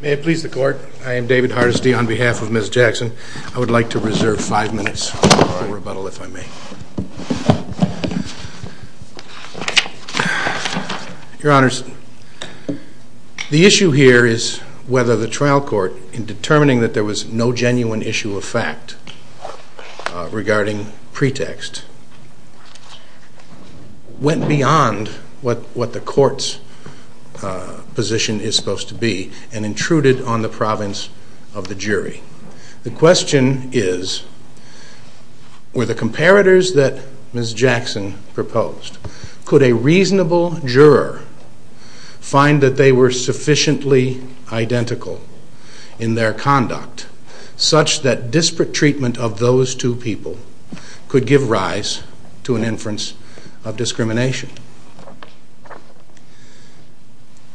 May it please the court, I am David Hardesty on behalf of Ms. Jackson. I would like to ask whether the trial court in determining that there was no genuine issue of fact regarding pretext went beyond what the courts position is supposed to be and intruded on the province of the jury. The question is, were the comparators that Ms. Jackson proposed, could a reasonable juror find that they were sufficiently identical in their conduct such that disparate treatment of those two people could give rise to an inference of discrimination.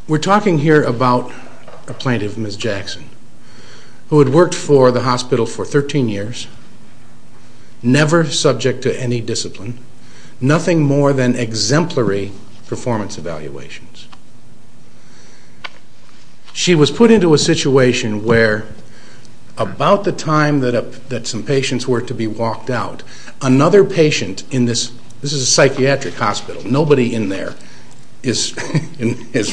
We're talking here about a plaintiff, Ms. Jackson, who had worked for the hospital for 13 years, never subject to any discipline, nothing more than exemplary performance evaluations. She was put into a situation where about the time that some patients were to be walked out, another patient in this, this is a psychiatric hospital, nobody in there is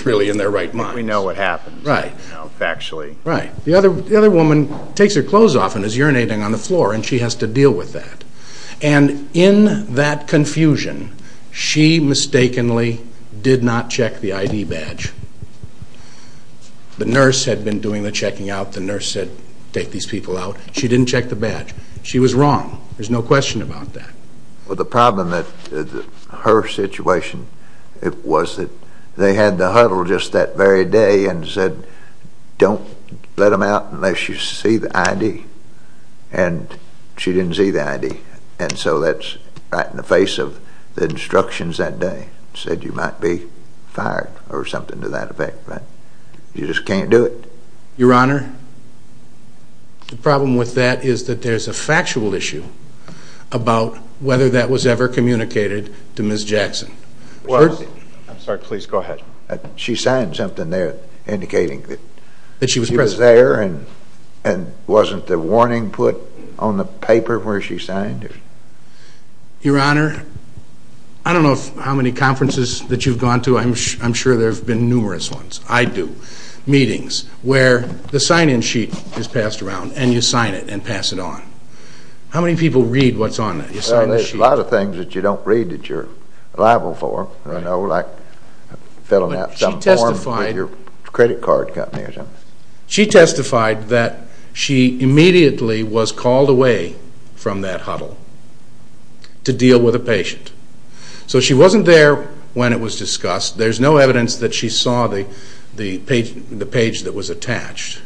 really in their right mind. We know what happened factually. Right. The other woman takes her clothes off and is urinating on the floor and she has to deal with that. And in that confusion, she mistakenly did not check the ID badge. The nurse had been doing the checking out, the nurse said take these people out. She didn't check the badge. She was wrong. There's no question about that. Well, the problem with her situation was that they had the huddle just that very day and said don't let them out unless you see the ID. And she didn't see the ID. And so that's right in the face of the instructions that day. Said you might be fired or something to that effect. You just can't do it. Your Honor, the problem with that is that there's a factual issue about whether that was ever communicated to Ms. Jackson. I'm sorry, please go ahead. She signed something there indicating that she was there and wasn't the warning put on the paper where she signed it? Your Honor, I don't know how many conferences that you've gone to. I'm sure there have been numerous ones. I do. Meetings where the sign-in sheet is passed around and you sign it and pass it on. How many people read what's on it? Well, there's a lot of things that you don't read that you're liable for. Like filling out some form with your credit card company or something. She testified that she immediately was called away from that huddle to deal with a patient. So she wasn't there when it was discussed. There's no evidence that she saw the page that was attached.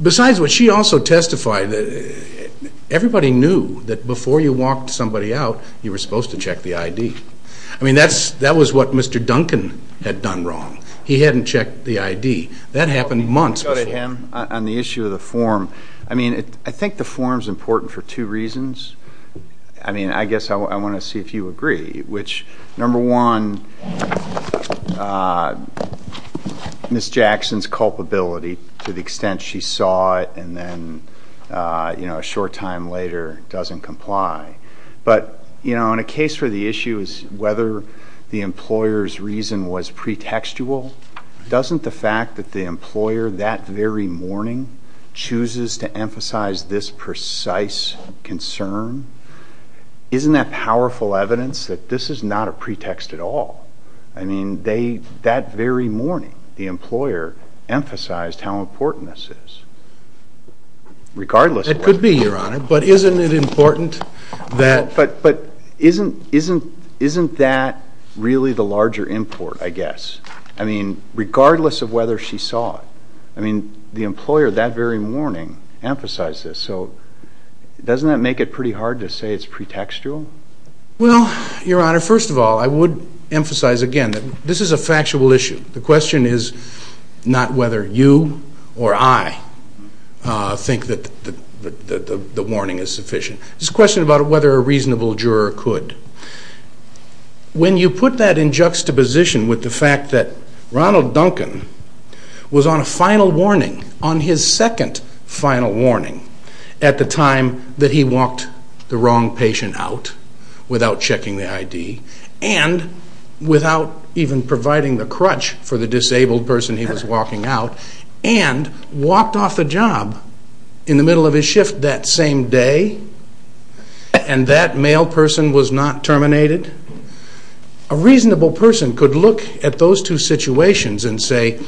Besides what she also testified, everybody knew that before you walked somebody out, you were supposed to check the ID. I mean, that was what Mr. Duncan had done wrong. He hadn't checked the ID. That happened months before. On the issue of the form, I mean, I think the form is important for two reasons. I mean, I guess I want to see if you agree. Number one, Ms. Jackson's culpability to the extent she saw it and then a short time later doesn't comply. But, you know, in a case where the issue is whether the employer's reason was pretextual, doesn't the fact that the employer that very morning chooses to emphasize this precise concern, isn't that powerful evidence that this is not a pretext at all? I mean, that very morning the employer emphasized how important this is. It could be, Your Honor. But isn't it important that... But isn't that really the larger import, I guess? I mean, regardless of whether she saw it. I mean, the employer that very morning emphasized this. So doesn't that make it pretty hard to say it's pretextual? Well, Your Honor, first of all, I would emphasize again that this is a factual issue. The question is not whether you or I think that the warning is sufficient. It's a question about whether a reasonable juror could. When you put that in juxtaposition with the fact that Ronald Duncan was on a final warning, on his second final warning at the time that he walked the wrong patient out without checking the ID and without even providing the crutch for the disabled person he was walking out and walked off the job in the middle of his shift that same day, and that male person was not terminated, a reasonable person could look at those two situations and say,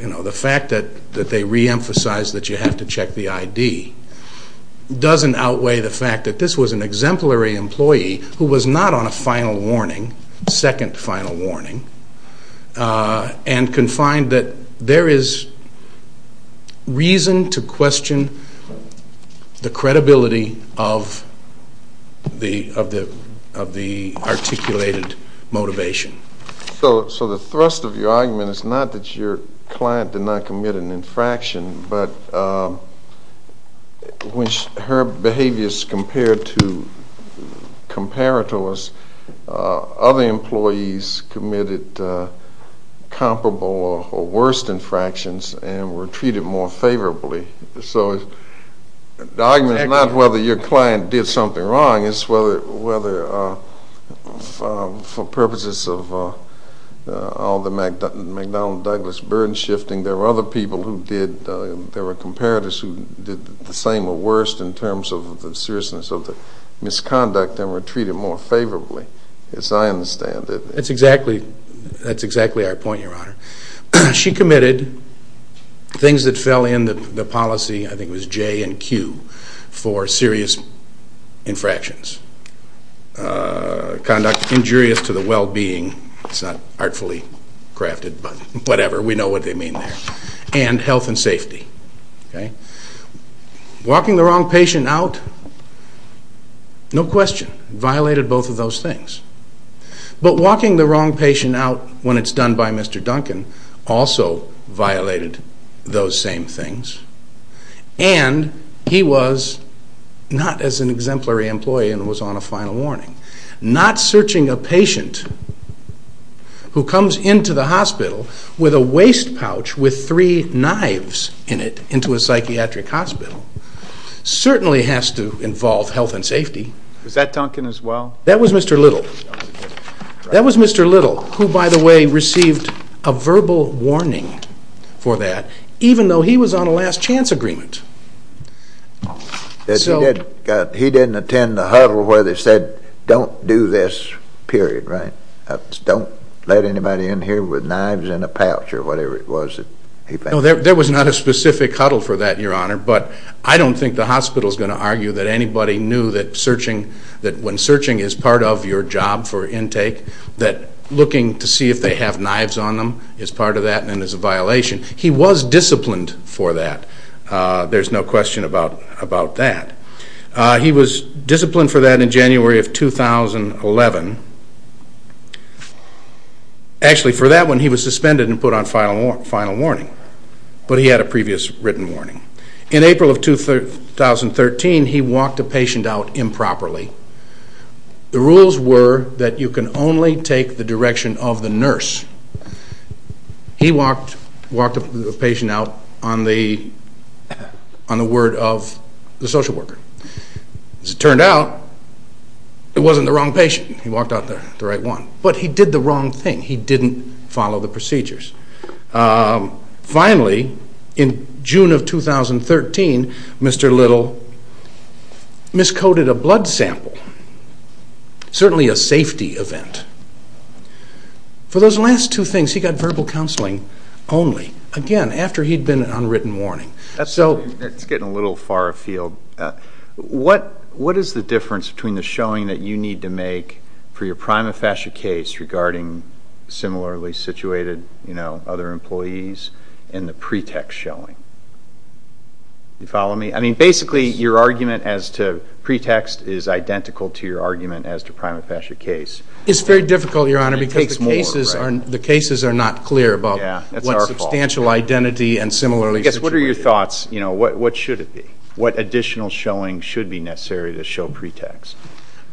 you know, the fact that they reemphasized that you have to check the ID doesn't outweigh the fact that this was an exemplary employee who was not on a final warning, second final warning, and can find that there is reason to question the credibility of the articulated motivation. So the thrust of your argument is not that your client did not commit an infraction, but when her behavior is compared to us, other employees committed comparable or worse infractions and were treated more favorably. So the argument is not whether your client did something wrong. My question is whether for purposes of all the MacDonald-Douglas burden shifting, there were other people who did, there were comparators who did the same or worse in terms of the seriousness of the misconduct and were treated more favorably, as I understand it. That's exactly our point, Your Honor. She committed things that fell in the policy, I think it was J and Q, for serious infractions. Conduct injurious to the well-being, it's not artfully crafted, but whatever, we know what they mean there. And health and safety. Walking the wrong patient out, no question, violated both of those things. But walking the wrong patient out when it's done by Mr. Duncan also violated those same things. And he was not as an exemplary employee and was on a final warning. Not searching a patient who comes into the hospital with a waste pouch with three knives in it into a psychiatric hospital certainly has to involve health and safety. Was that Duncan as well? That was Mr. Little. That was Mr. Little who, by the way, received a verbal warning for that, even though he was on a last chance agreement. He didn't attend the huddle where they said don't do this, period, right? Don't let anybody in here with knives in a pouch or whatever it was that he found. No, there was not a specific huddle for that, Your Honor, but I don't think the hospital is going to argue that anybody knew that when searching is part of your job for intake, that looking to see if they have knives on them is part of that and is a violation. He was disciplined for that. There's no question about that. He was disciplined for that in January of 2011. Actually, for that one, he was suspended and put on final warning, but he had a previous written warning. In April of 2013, he walked a patient out improperly. The rules were that you can only take the direction of the nurse. He walked a patient out on the word of the social worker. As it turned out, it wasn't the wrong patient. He walked out the right one, but he did the wrong thing. He didn't follow the procedures. Finally, in June of 2013, Mr. Little miscoded a blood sample, certainly a safety event. For those last two things, he got verbal counseling only, again, after he'd been on written warning. It's getting a little far afield. What is the difference between the showing that you need to make for your prima facie case regarding similarly situated other employees and the pretext showing? Do you follow me? Basically, your argument as to pretext is identical to your argument as to prima facie case. It's very difficult, Your Honor, because the cases are not clear about what substantial identity and similarly situated. What are your thoughts? What should it be? What additional showing should be necessary to show pretext?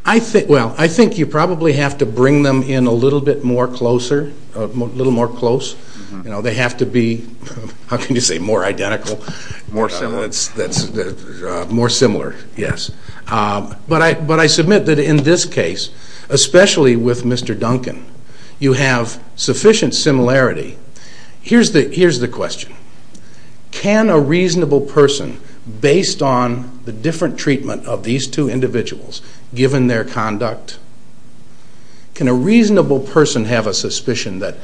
I think you probably have to bring them in a little bit more closer, a little more close. They have to be, how can you say, more identical? More similar. More similar, yes. But I submit that in this case, especially with Mr. Duncan, you have sufficient similarity. Here's the question. Can a reasonable person, based on the different treatment of these two individuals, given their conduct, can a reasonable person have a suspicion that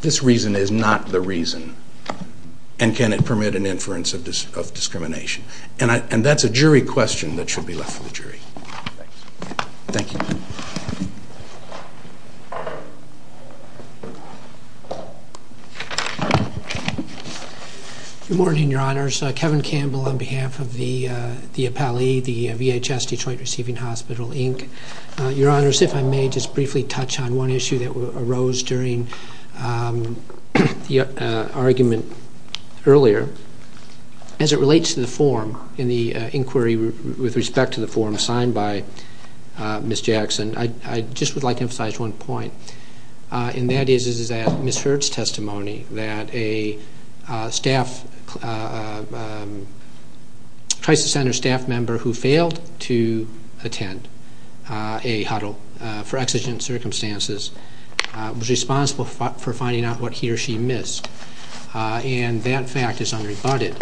this reason is not the reason? And can it permit an inference of discrimination? And that's a jury question that should be left for the jury. Thank you. Good morning, Your Honors. Kevin Campbell on behalf of the appellee, the VHS Detroit Receiving Hospital, Inc. Your Honors, if I may just briefly touch on one issue that arose during the argument earlier. As it relates to the form in the inquiry with respect to the form signed by Ms. Jackson, I just would like to emphasize one point. And that is that Ms. Hurd's testimony that a staff, crisis center staff member who failed to attend a huddle for exigent circumstances was responsible for finding out what he or she missed. And that fact is unrebutted.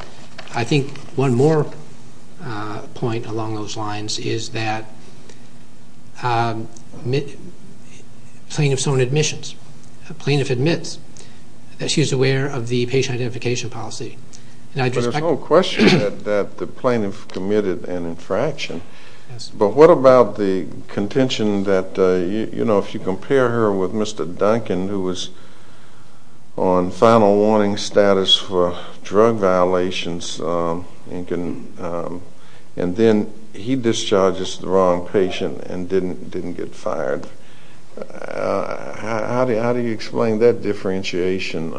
I think one more point along those lines is that a plaintiff's own admissions, a plaintiff admits that she is aware of the patient identification policy. There's no question that the plaintiff committed an infraction. But what about the contention that, you know, if you compare her with Mr. Duncan, who was on final warning status for drug violations, and then he discharges the wrong patient and didn't get fired. How do you explain that differentiation?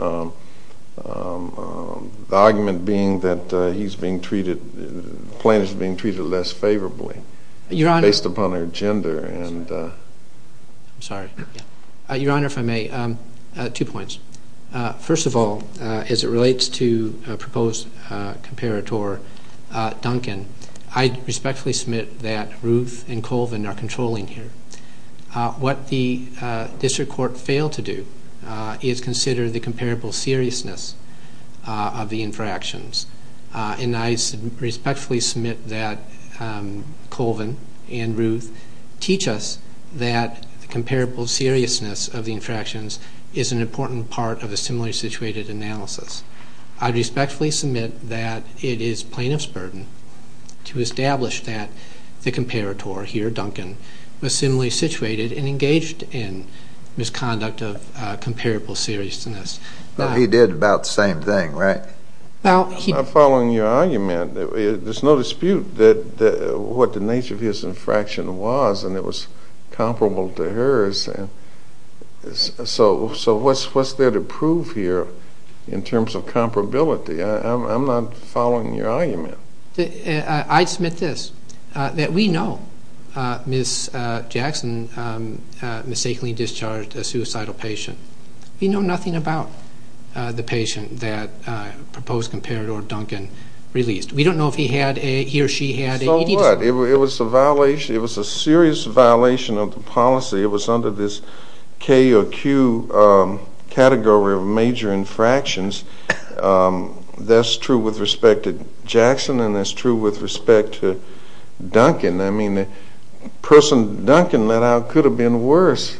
The argument being that he's being treated, the plaintiff's being treated less favorably based upon their gender. I'm sorry. Your Honor, if I may, two points. First of all, as it relates to a proposed comparator, Duncan, I respectfully submit that Ruth and Colvin are controlling here. What the district court failed to do is consider the comparable seriousness of the infractions. And I respectfully submit that Colvin and Ruth teach us that the comparable seriousness of the infractions is an important part of a similarly situated analysis. I respectfully submit that it is plaintiff's burden to establish that the comparator here, Duncan, was similarly situated and engaged in misconduct of comparable seriousness. Well, he did about the same thing, right? I'm not following your argument. There's no dispute what the nature of his infraction was, and it was comparable to hers. So what's there to prove here in terms of comparability? I'm not following your argument. I submit this, that we know Ms. Jackson mistakenly discharged a suicidal patient. We know nothing about the patient that proposed comparator Duncan released. We don't know if he had a, he or she had a... So what? It was a violation. It was a serious violation of the policy. It was under this K or Q category of major infractions. That's true with respect to Jackson, and that's true with respect to Duncan. I mean, the person Duncan let out could have been worse.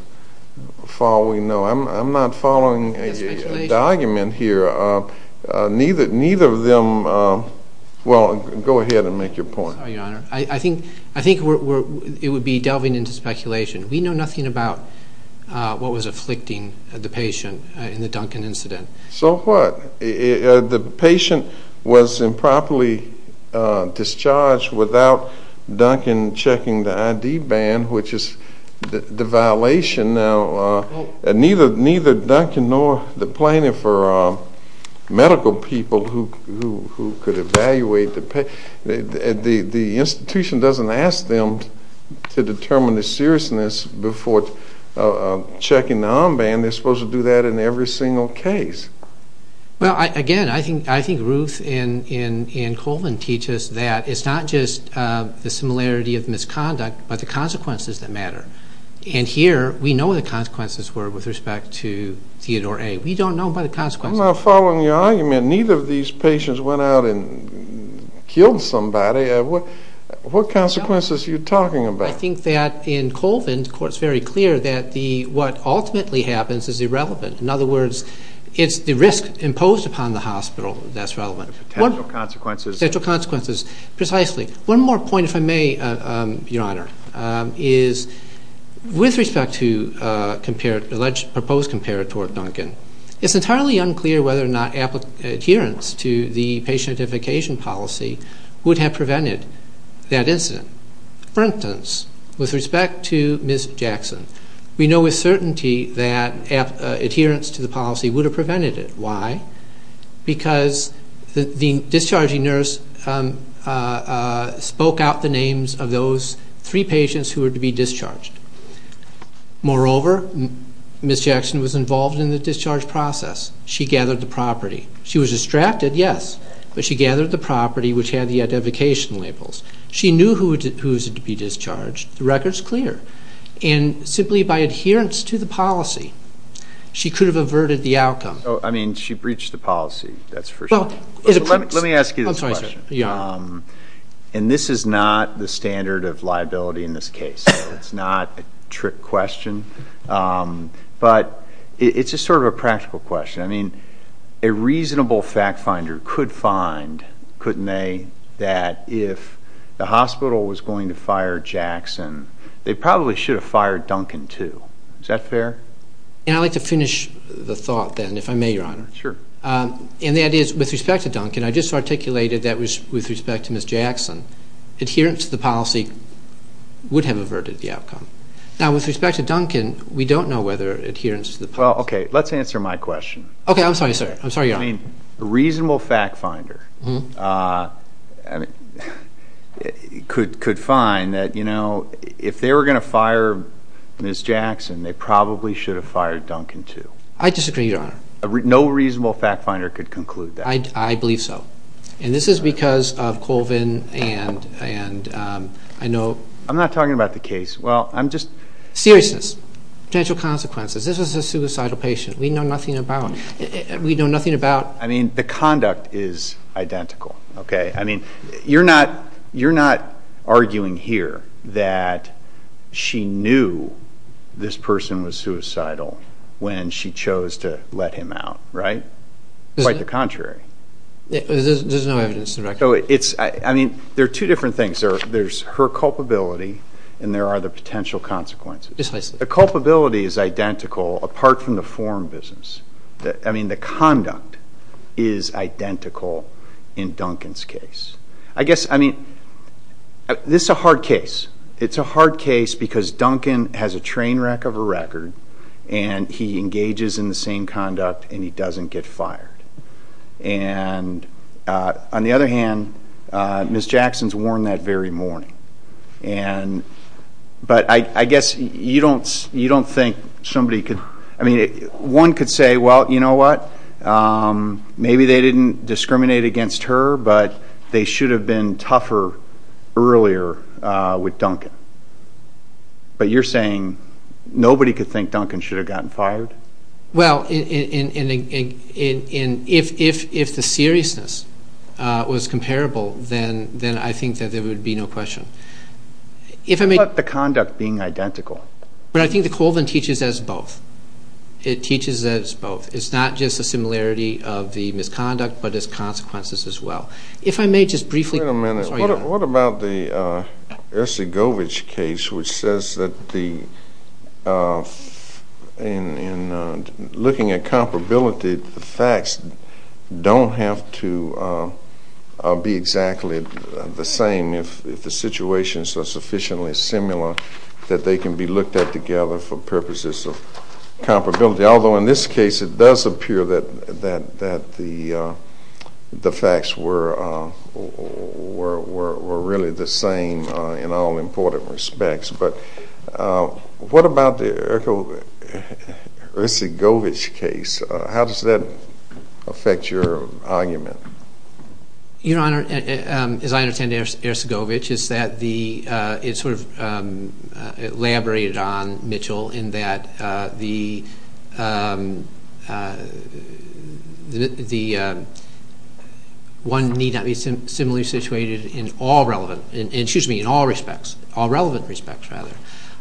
I'm not following the argument here. Neither of them... Well, go ahead and make your point. I think it would be delving into speculation. We know nothing about what was afflicting the patient in the Duncan incident. So what? The patient was improperly discharged without Duncan checking the ID band, which is the violation. Now, neither Duncan nor the plaintiff or medical people who could evaluate the patient. The institution doesn't ask them to determine the seriousness before checking the armband. They're supposed to do that in every single case. Well, again, I think Ruth and Colvin teach us that it's not just the similarity of misconduct, but the consequences that matter. And here we know what the consequences were with respect to Theodore A. We don't know by the consequences. I'm not following your argument. Neither of these patients went out and killed somebody. What consequences are you talking about? Well, I think that in Colvin, of course, it's very clear that what ultimately happens is irrelevant. In other words, it's the risk imposed upon the hospital that's relevant. Potential consequences. Potential consequences, precisely. One more point, if I may, Your Honor, is with respect to the alleged proposed comparator of Duncan, it's entirely unclear whether or not adherence to the patient identification policy would have prevented that incident. For instance, with respect to Ms. Jackson, we know with certainty that adherence to the policy would have prevented it. Why? Because the discharging nurse spoke out the names of those three patients who were to be discharged. Moreover, Ms. Jackson was involved in the discharge process. She gathered the property. She was distracted, yes, but she gathered the property which had the identification labels. She knew who was to be discharged. The record's clear. And simply by adherence to the policy, she could have averted the outcome. So, I mean, she breached the policy. That's for sure. Let me ask you this question. I'm sorry, sir. Your Honor. And this is not the standard of liability in this case. It's not a trick question. But it's just sort of a practical question. I mean, a reasonable fact finder could find, couldn't they, that if the hospital was going to fire Jackson, they probably should have fired Duncan, too. Is that fair? And I'd like to finish the thought then, if I may, Your Honor. Sure. And that is, with respect to Duncan, I just articulated that with respect to Ms. Jackson, adherence to the policy would have averted the outcome. Now, with respect to Duncan, we don't know whether adherence to the policy Well, okay, let's answer my question. Okay, I'm sorry, sir. I'm sorry, Your Honor. I mean, a reasonable fact finder could find that, you know, if they were going to fire Ms. Jackson, they probably should have fired Duncan, too. I disagree, Your Honor. No reasonable fact finder could conclude that. I believe so. And this is because of Colvin and I know I'm not talking about the case. Well, I'm just Seriousness. Potential consequences. This is a suicidal patient we know nothing about. We know nothing about I mean, the conduct is identical, okay? I mean, you're not arguing here that she knew this person was suicidal when she chose to let him out, right? Quite the contrary. There's no evidence to the record. I mean, there are two different things. There's her culpability and there are the potential consequences. Displacement. The culpability is identical apart from the form business. I mean, the conduct is identical in Duncan's case. I guess, I mean, this is a hard case. It's a hard case because Duncan has a train wreck of a record and he engages in the same conduct and he doesn't get fired. And on the other hand, Ms. Jackson is warned that very morning. But I guess you don't think somebody could, I mean, one could say, well, you know what? Maybe they didn't discriminate against her, but they should have been tougher earlier with Duncan. But you're saying nobody could think Duncan should have gotten fired? Well, if the seriousness was comparable, then I think that there would be no question. What about the conduct being identical? But I think the Colvin teaches us both. It teaches us both. It's not just a similarity of the misconduct but its consequences as well. Wait a minute. What about the Ercegovic case which says that in looking at comparability, the facts don't have to be exactly the same if the situations are sufficiently similar that they can be looked at together for purposes of comparability. Although in this case it does appear that the facts were really the same in all important respects. But what about the Ercegovic case? How does that affect your argument? Your Honor, as I understand Ercegovic, it's sort of elaborated on Mitchell in that one need not be similarly situated in all relevant respects.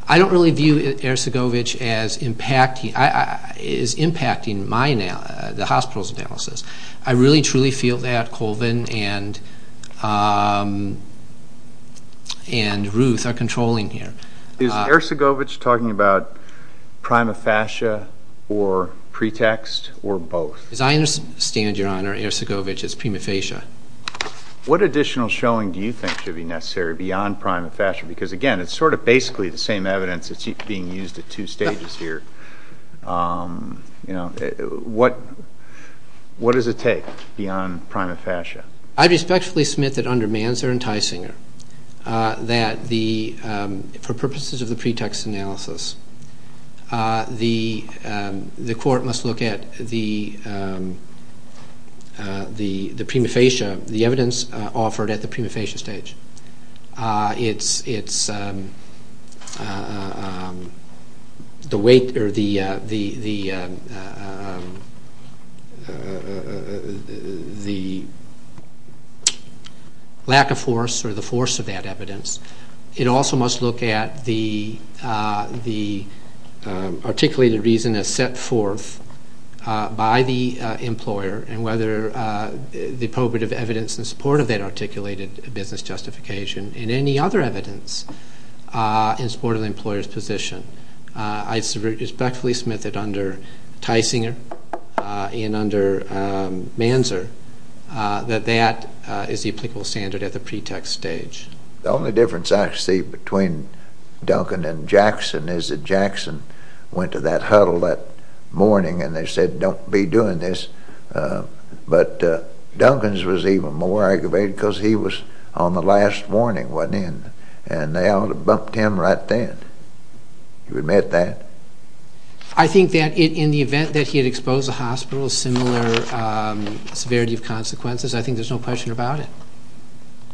I don't really view Ercegovic as impacting the hospital's analysis. I really truly feel that Colvin and Ruth are controlling here. Is Ercegovic talking about prima facie or pretext or both? As I understand, Your Honor, Ercegovic is prima facie. What additional showing do you think should be necessary beyond prima facie? Because, again, it's sort of basically the same evidence that's being used at two stages here. What does it take beyond prima facie? I respectfully submit that under Manzer and Teisinger that for purposes of the pretext analysis, the court must look at the prima facie, the evidence offered at the prima facie stage. It's the lack of force or the force of that evidence. It also must look at the articulated reason that's set forth by the employer and whether the probative evidence in support of that articulated business justification and any other evidence in support of the employer's position. I respectfully submit that under Teisinger and under Manzer that that is the applicable standard at the pretext stage. The only difference I see between Duncan and Jackson is that Jackson went to that huddle that morning and they said, don't be doing this. But Duncan's was even more aggravated because he was on the last warning, wasn't he? And they ought to have bumped him right then. Do you admit that? I think that in the event that he had exposed a hospital of similar severity of consequences, I think there's no question about it.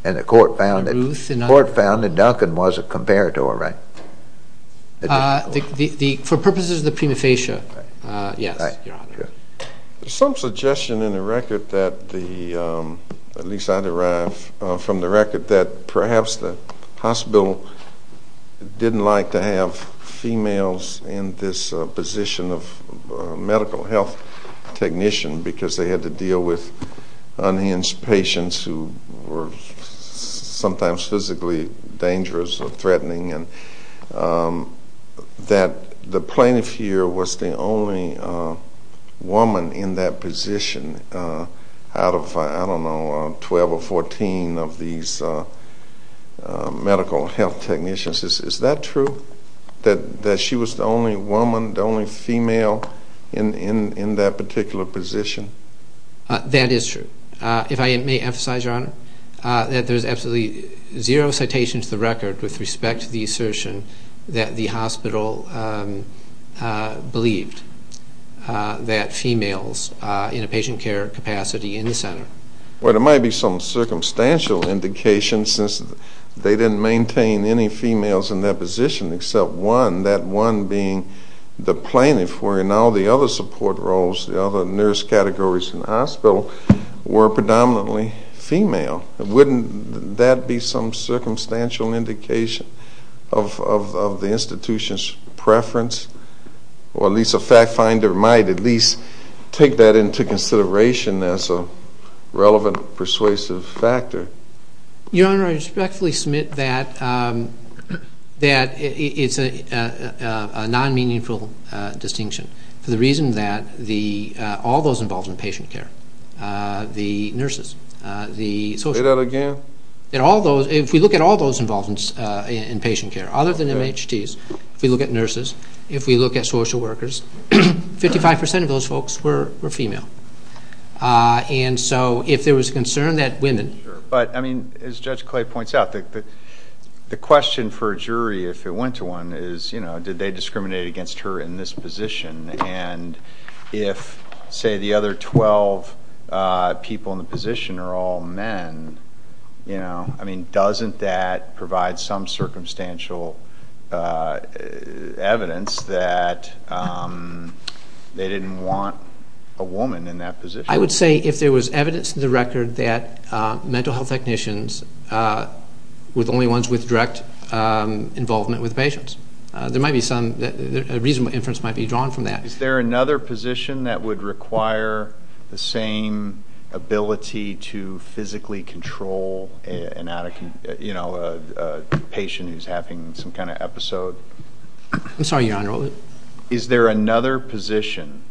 And the court found that Duncan was a comparator, right? For purposes of the prima facie, yes, Your Honor. There's some suggestion in the record that the, at least I derive from the record, that perhaps the hospital didn't like to have females in this position of medical health technician because they had to deal with unhinged patients who were sometimes physically dangerous or threatening and that the plaintiff here was the only woman in that position out of, I don't know, 12 or 14 of these medical health technicians. Is that true, that she was the only woman, the only female in that particular position? That is true. If I may emphasize, Your Honor, that there's absolutely zero citation to the record with respect to the assertion that the hospital believed that females in a patient care capacity in the center. Well, there might be some circumstantial indication since they didn't maintain any females in that position except one, that one being the plaintiff wherein all the other support roles, the other nurse categories in the hospital were predominantly female. Wouldn't that be some circumstantial indication of the institution's preference? Or at least a fact finder might at least take that into consideration as a relevant persuasive factor. Your Honor, I respectfully submit that it's a non-meaningful distinction for the reason that all those involved in patient care, the nurses, the social workers. Say that again. If we look at all those involved in patient care other than MHDs, if we look at nurses, if we look at social workers, 55% of those folks were female. And so if there was a concern that women. But, I mean, as Judge Clay points out, the question for a jury if it went to one is, you know, did they discriminate against her in this position? And if, say, the other 12 people in the position are all men, you know, I mean, doesn't that provide some circumstantial evidence that they didn't want a woman in that position? I would say if there was evidence to the record that mental health technicians were the only ones with direct involvement with patients. There might be some reasonable inference might be drawn from that. Is there another position that would require the same ability to physically control, you know, a patient who's having some kind of episode? I'm sorry, Your Honor. Is there another position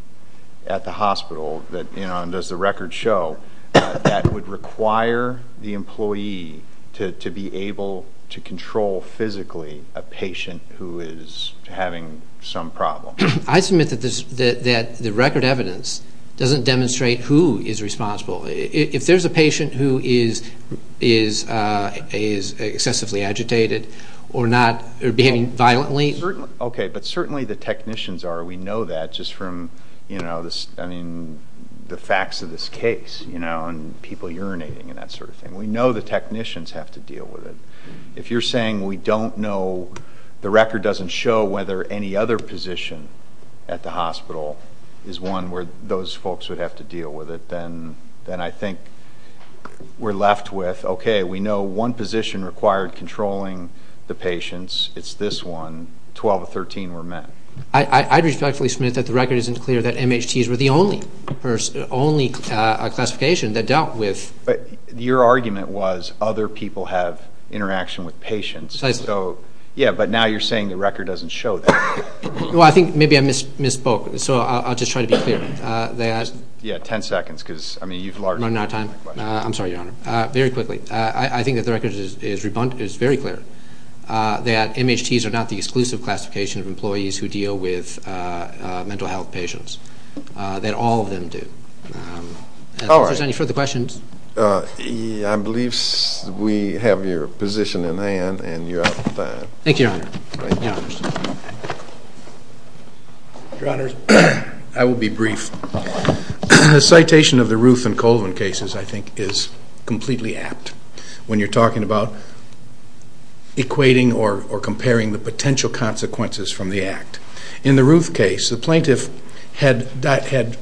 at the hospital that, you know, and does the record show, that would require the employee to be able to control physically a patient who is having some problem? I submit that the record evidence doesn't demonstrate who is responsible. If there's a patient who is excessively agitated or behaving violently. Okay, but certainly the technicians are. We know that just from, you know, the facts of this case, you know, and people urinating and that sort of thing. We know the technicians have to deal with it. If you're saying we don't know, the record doesn't show whether any other position at the hospital is one where those folks would have to deal with it, then I think we're left with, okay, we know one position required controlling the patients. It's this one. 12 of 13 were men. I respectfully submit that the record isn't clear that MHTs were the only classification that dealt with. But your argument was other people have interaction with patients. Precisely. Yeah, but now you're saying the record doesn't show that. Well, I think maybe I misspoke. So I'll just try to be clear. Yeah, 10 seconds because, I mean, you've largely run out of time. I'm sorry, Your Honor. Very quickly, I think that the record is very clear that MHTs are not the exclusive classification of employees who deal with mental health patients, that all of them do. All right. If there's any further questions. I believe we have your position in hand and you're out of time. Thank you, Your Honor. Your Honors, I will be brief. The citation of the Ruth and Colvin cases, I think, is completely apt. When you're talking about equating or comparing the potential consequences from the act. In the Ruth case, the plaintiff had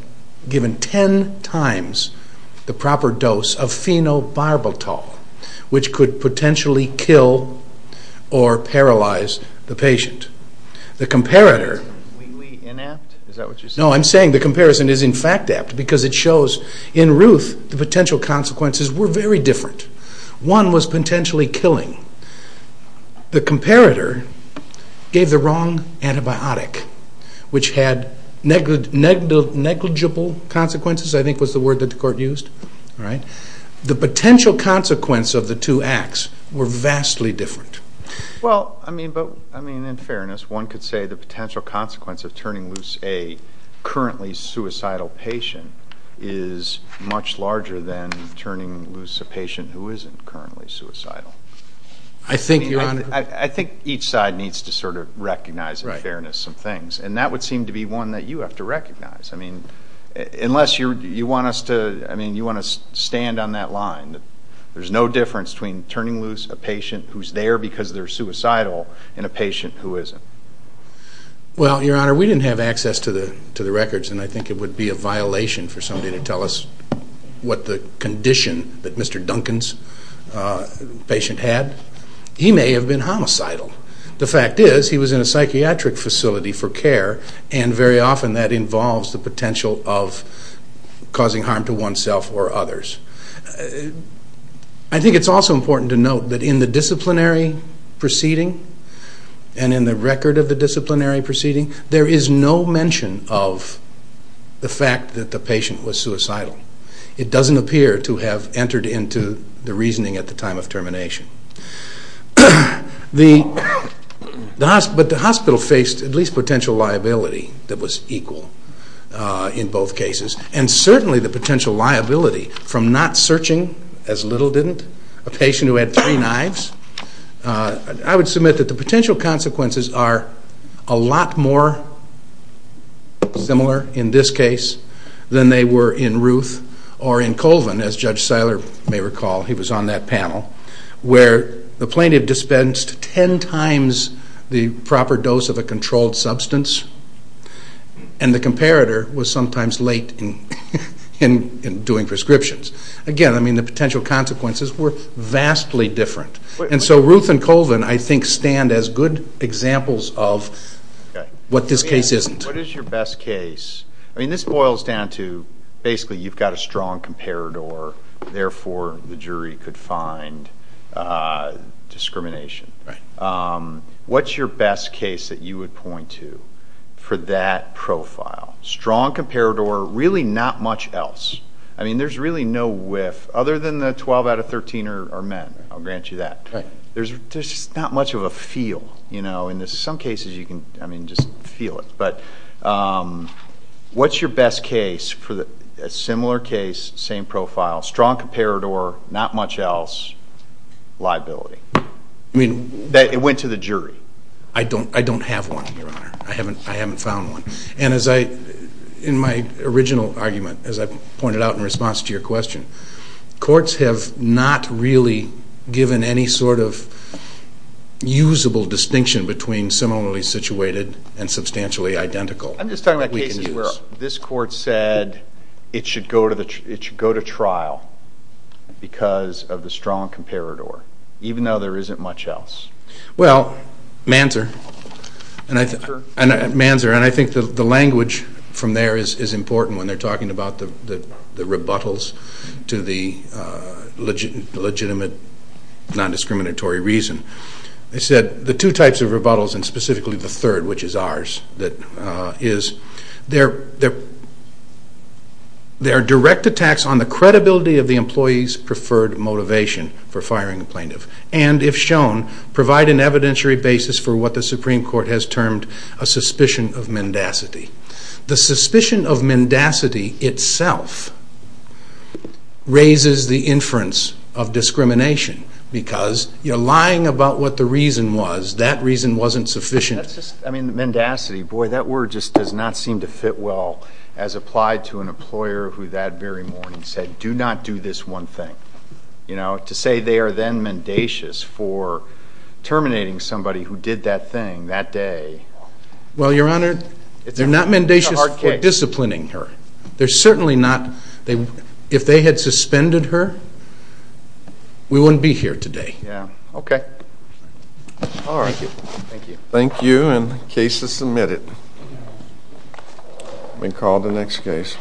given 10 times the proper dose of phenobarbital, which could potentially kill or paralyze the patient. The comparator... Is that completely inapt? Is that what you're saying? No, I'm saying the comparison is, in fact, apt because it shows, in Ruth, the potential consequences were very different. One was potentially killing. The comparator gave the wrong antibiotic, which had negligible consequences, I think was the word that the court used. The potential consequence of the two acts were vastly different. Well, I mean, in fairness, one could say the potential consequence of turning loose a currently suicidal patient is much larger than turning loose a patient who isn't currently suicidal. I think, Your Honor... I think each side needs to sort of recognize in fairness some things, and that would seem to be one that you have to recognize. I mean, unless you want us to stand on that line, there's no difference between turning loose a patient who's there because they're suicidal and a patient who isn't. Well, Your Honor, we didn't have access to the records, and I think it would be a violation for somebody to tell us what the condition that Mr. Duncan's patient had. He may have been homicidal. The fact is he was in a psychiatric facility for care, and very often that involves the potential of causing harm to oneself or others. I think it's also important to note that in the disciplinary proceeding and in the record of the disciplinary proceeding, there is no mention of the fact that the patient was suicidal. It doesn't appear to have entered into the reasoning at the time of termination. But the hospital faced at least potential liability that was equal in both cases, and certainly the potential liability from not searching, as little didn't, a patient who had three knives. I would submit that the potential consequences are a lot more similar in this case than they were in Ruth or in Colvin, as Judge Seiler may recall. He was on that panel where the plaintiff dispensed ten times the proper dose of a controlled substance, and the comparator was sometimes late in doing prescriptions. Again, the potential consequences were vastly different. And so Ruth and Colvin, I think, stand as good examples of what this case isn't. What is your best case? This boils down to basically you've got a strong comparator, therefore the jury could find discrimination. What's your best case that you would point to for that profile? Strong comparator, really not much else. I mean, there's really no whiff other than the 12 out of 13 are men. I'll grant you that. There's just not much of a feel. In some cases, you can just feel it. But what's your best case for a similar case, same profile, strong comparator, not much else, liability? It went to the jury. I don't have one, Your Honor. I haven't found one. And in my original argument, as I pointed out in response to your question, courts have not really given any sort of usable distinction between similarly situated and substantially identical. I'm just talking about cases where this court said it should go to trial because of the strong comparator, even though there isn't much else. Well, Manzer, and I think the language from there is important when they're talking about the rebuttals to the legitimate non-discriminatory reason. They said the two types of rebuttals and specifically the third, which is ours, is they're direct attacks on the credibility of the employee's preferred motivation for firing a plaintiff and, if shown, provide an evidentiary basis for what the Supreme Court has termed a suspicion of mendacity. The suspicion of mendacity itself raises the inference of discrimination because you're lying about what the reason was. That reason wasn't sufficient. Mendacity. Boy, that word just does not seem to fit well as applied to an employer who that very morning said, do not do this one thing. To say they are then mendacious for terminating somebody who did that thing that day. Well, Your Honor, they're not mendacious for disciplining her. They're certainly not. If they had suspended her, we wouldn't be here today. Okay. Thank you. Thank you. Thank you, and the case is submitted. We'll call the next case.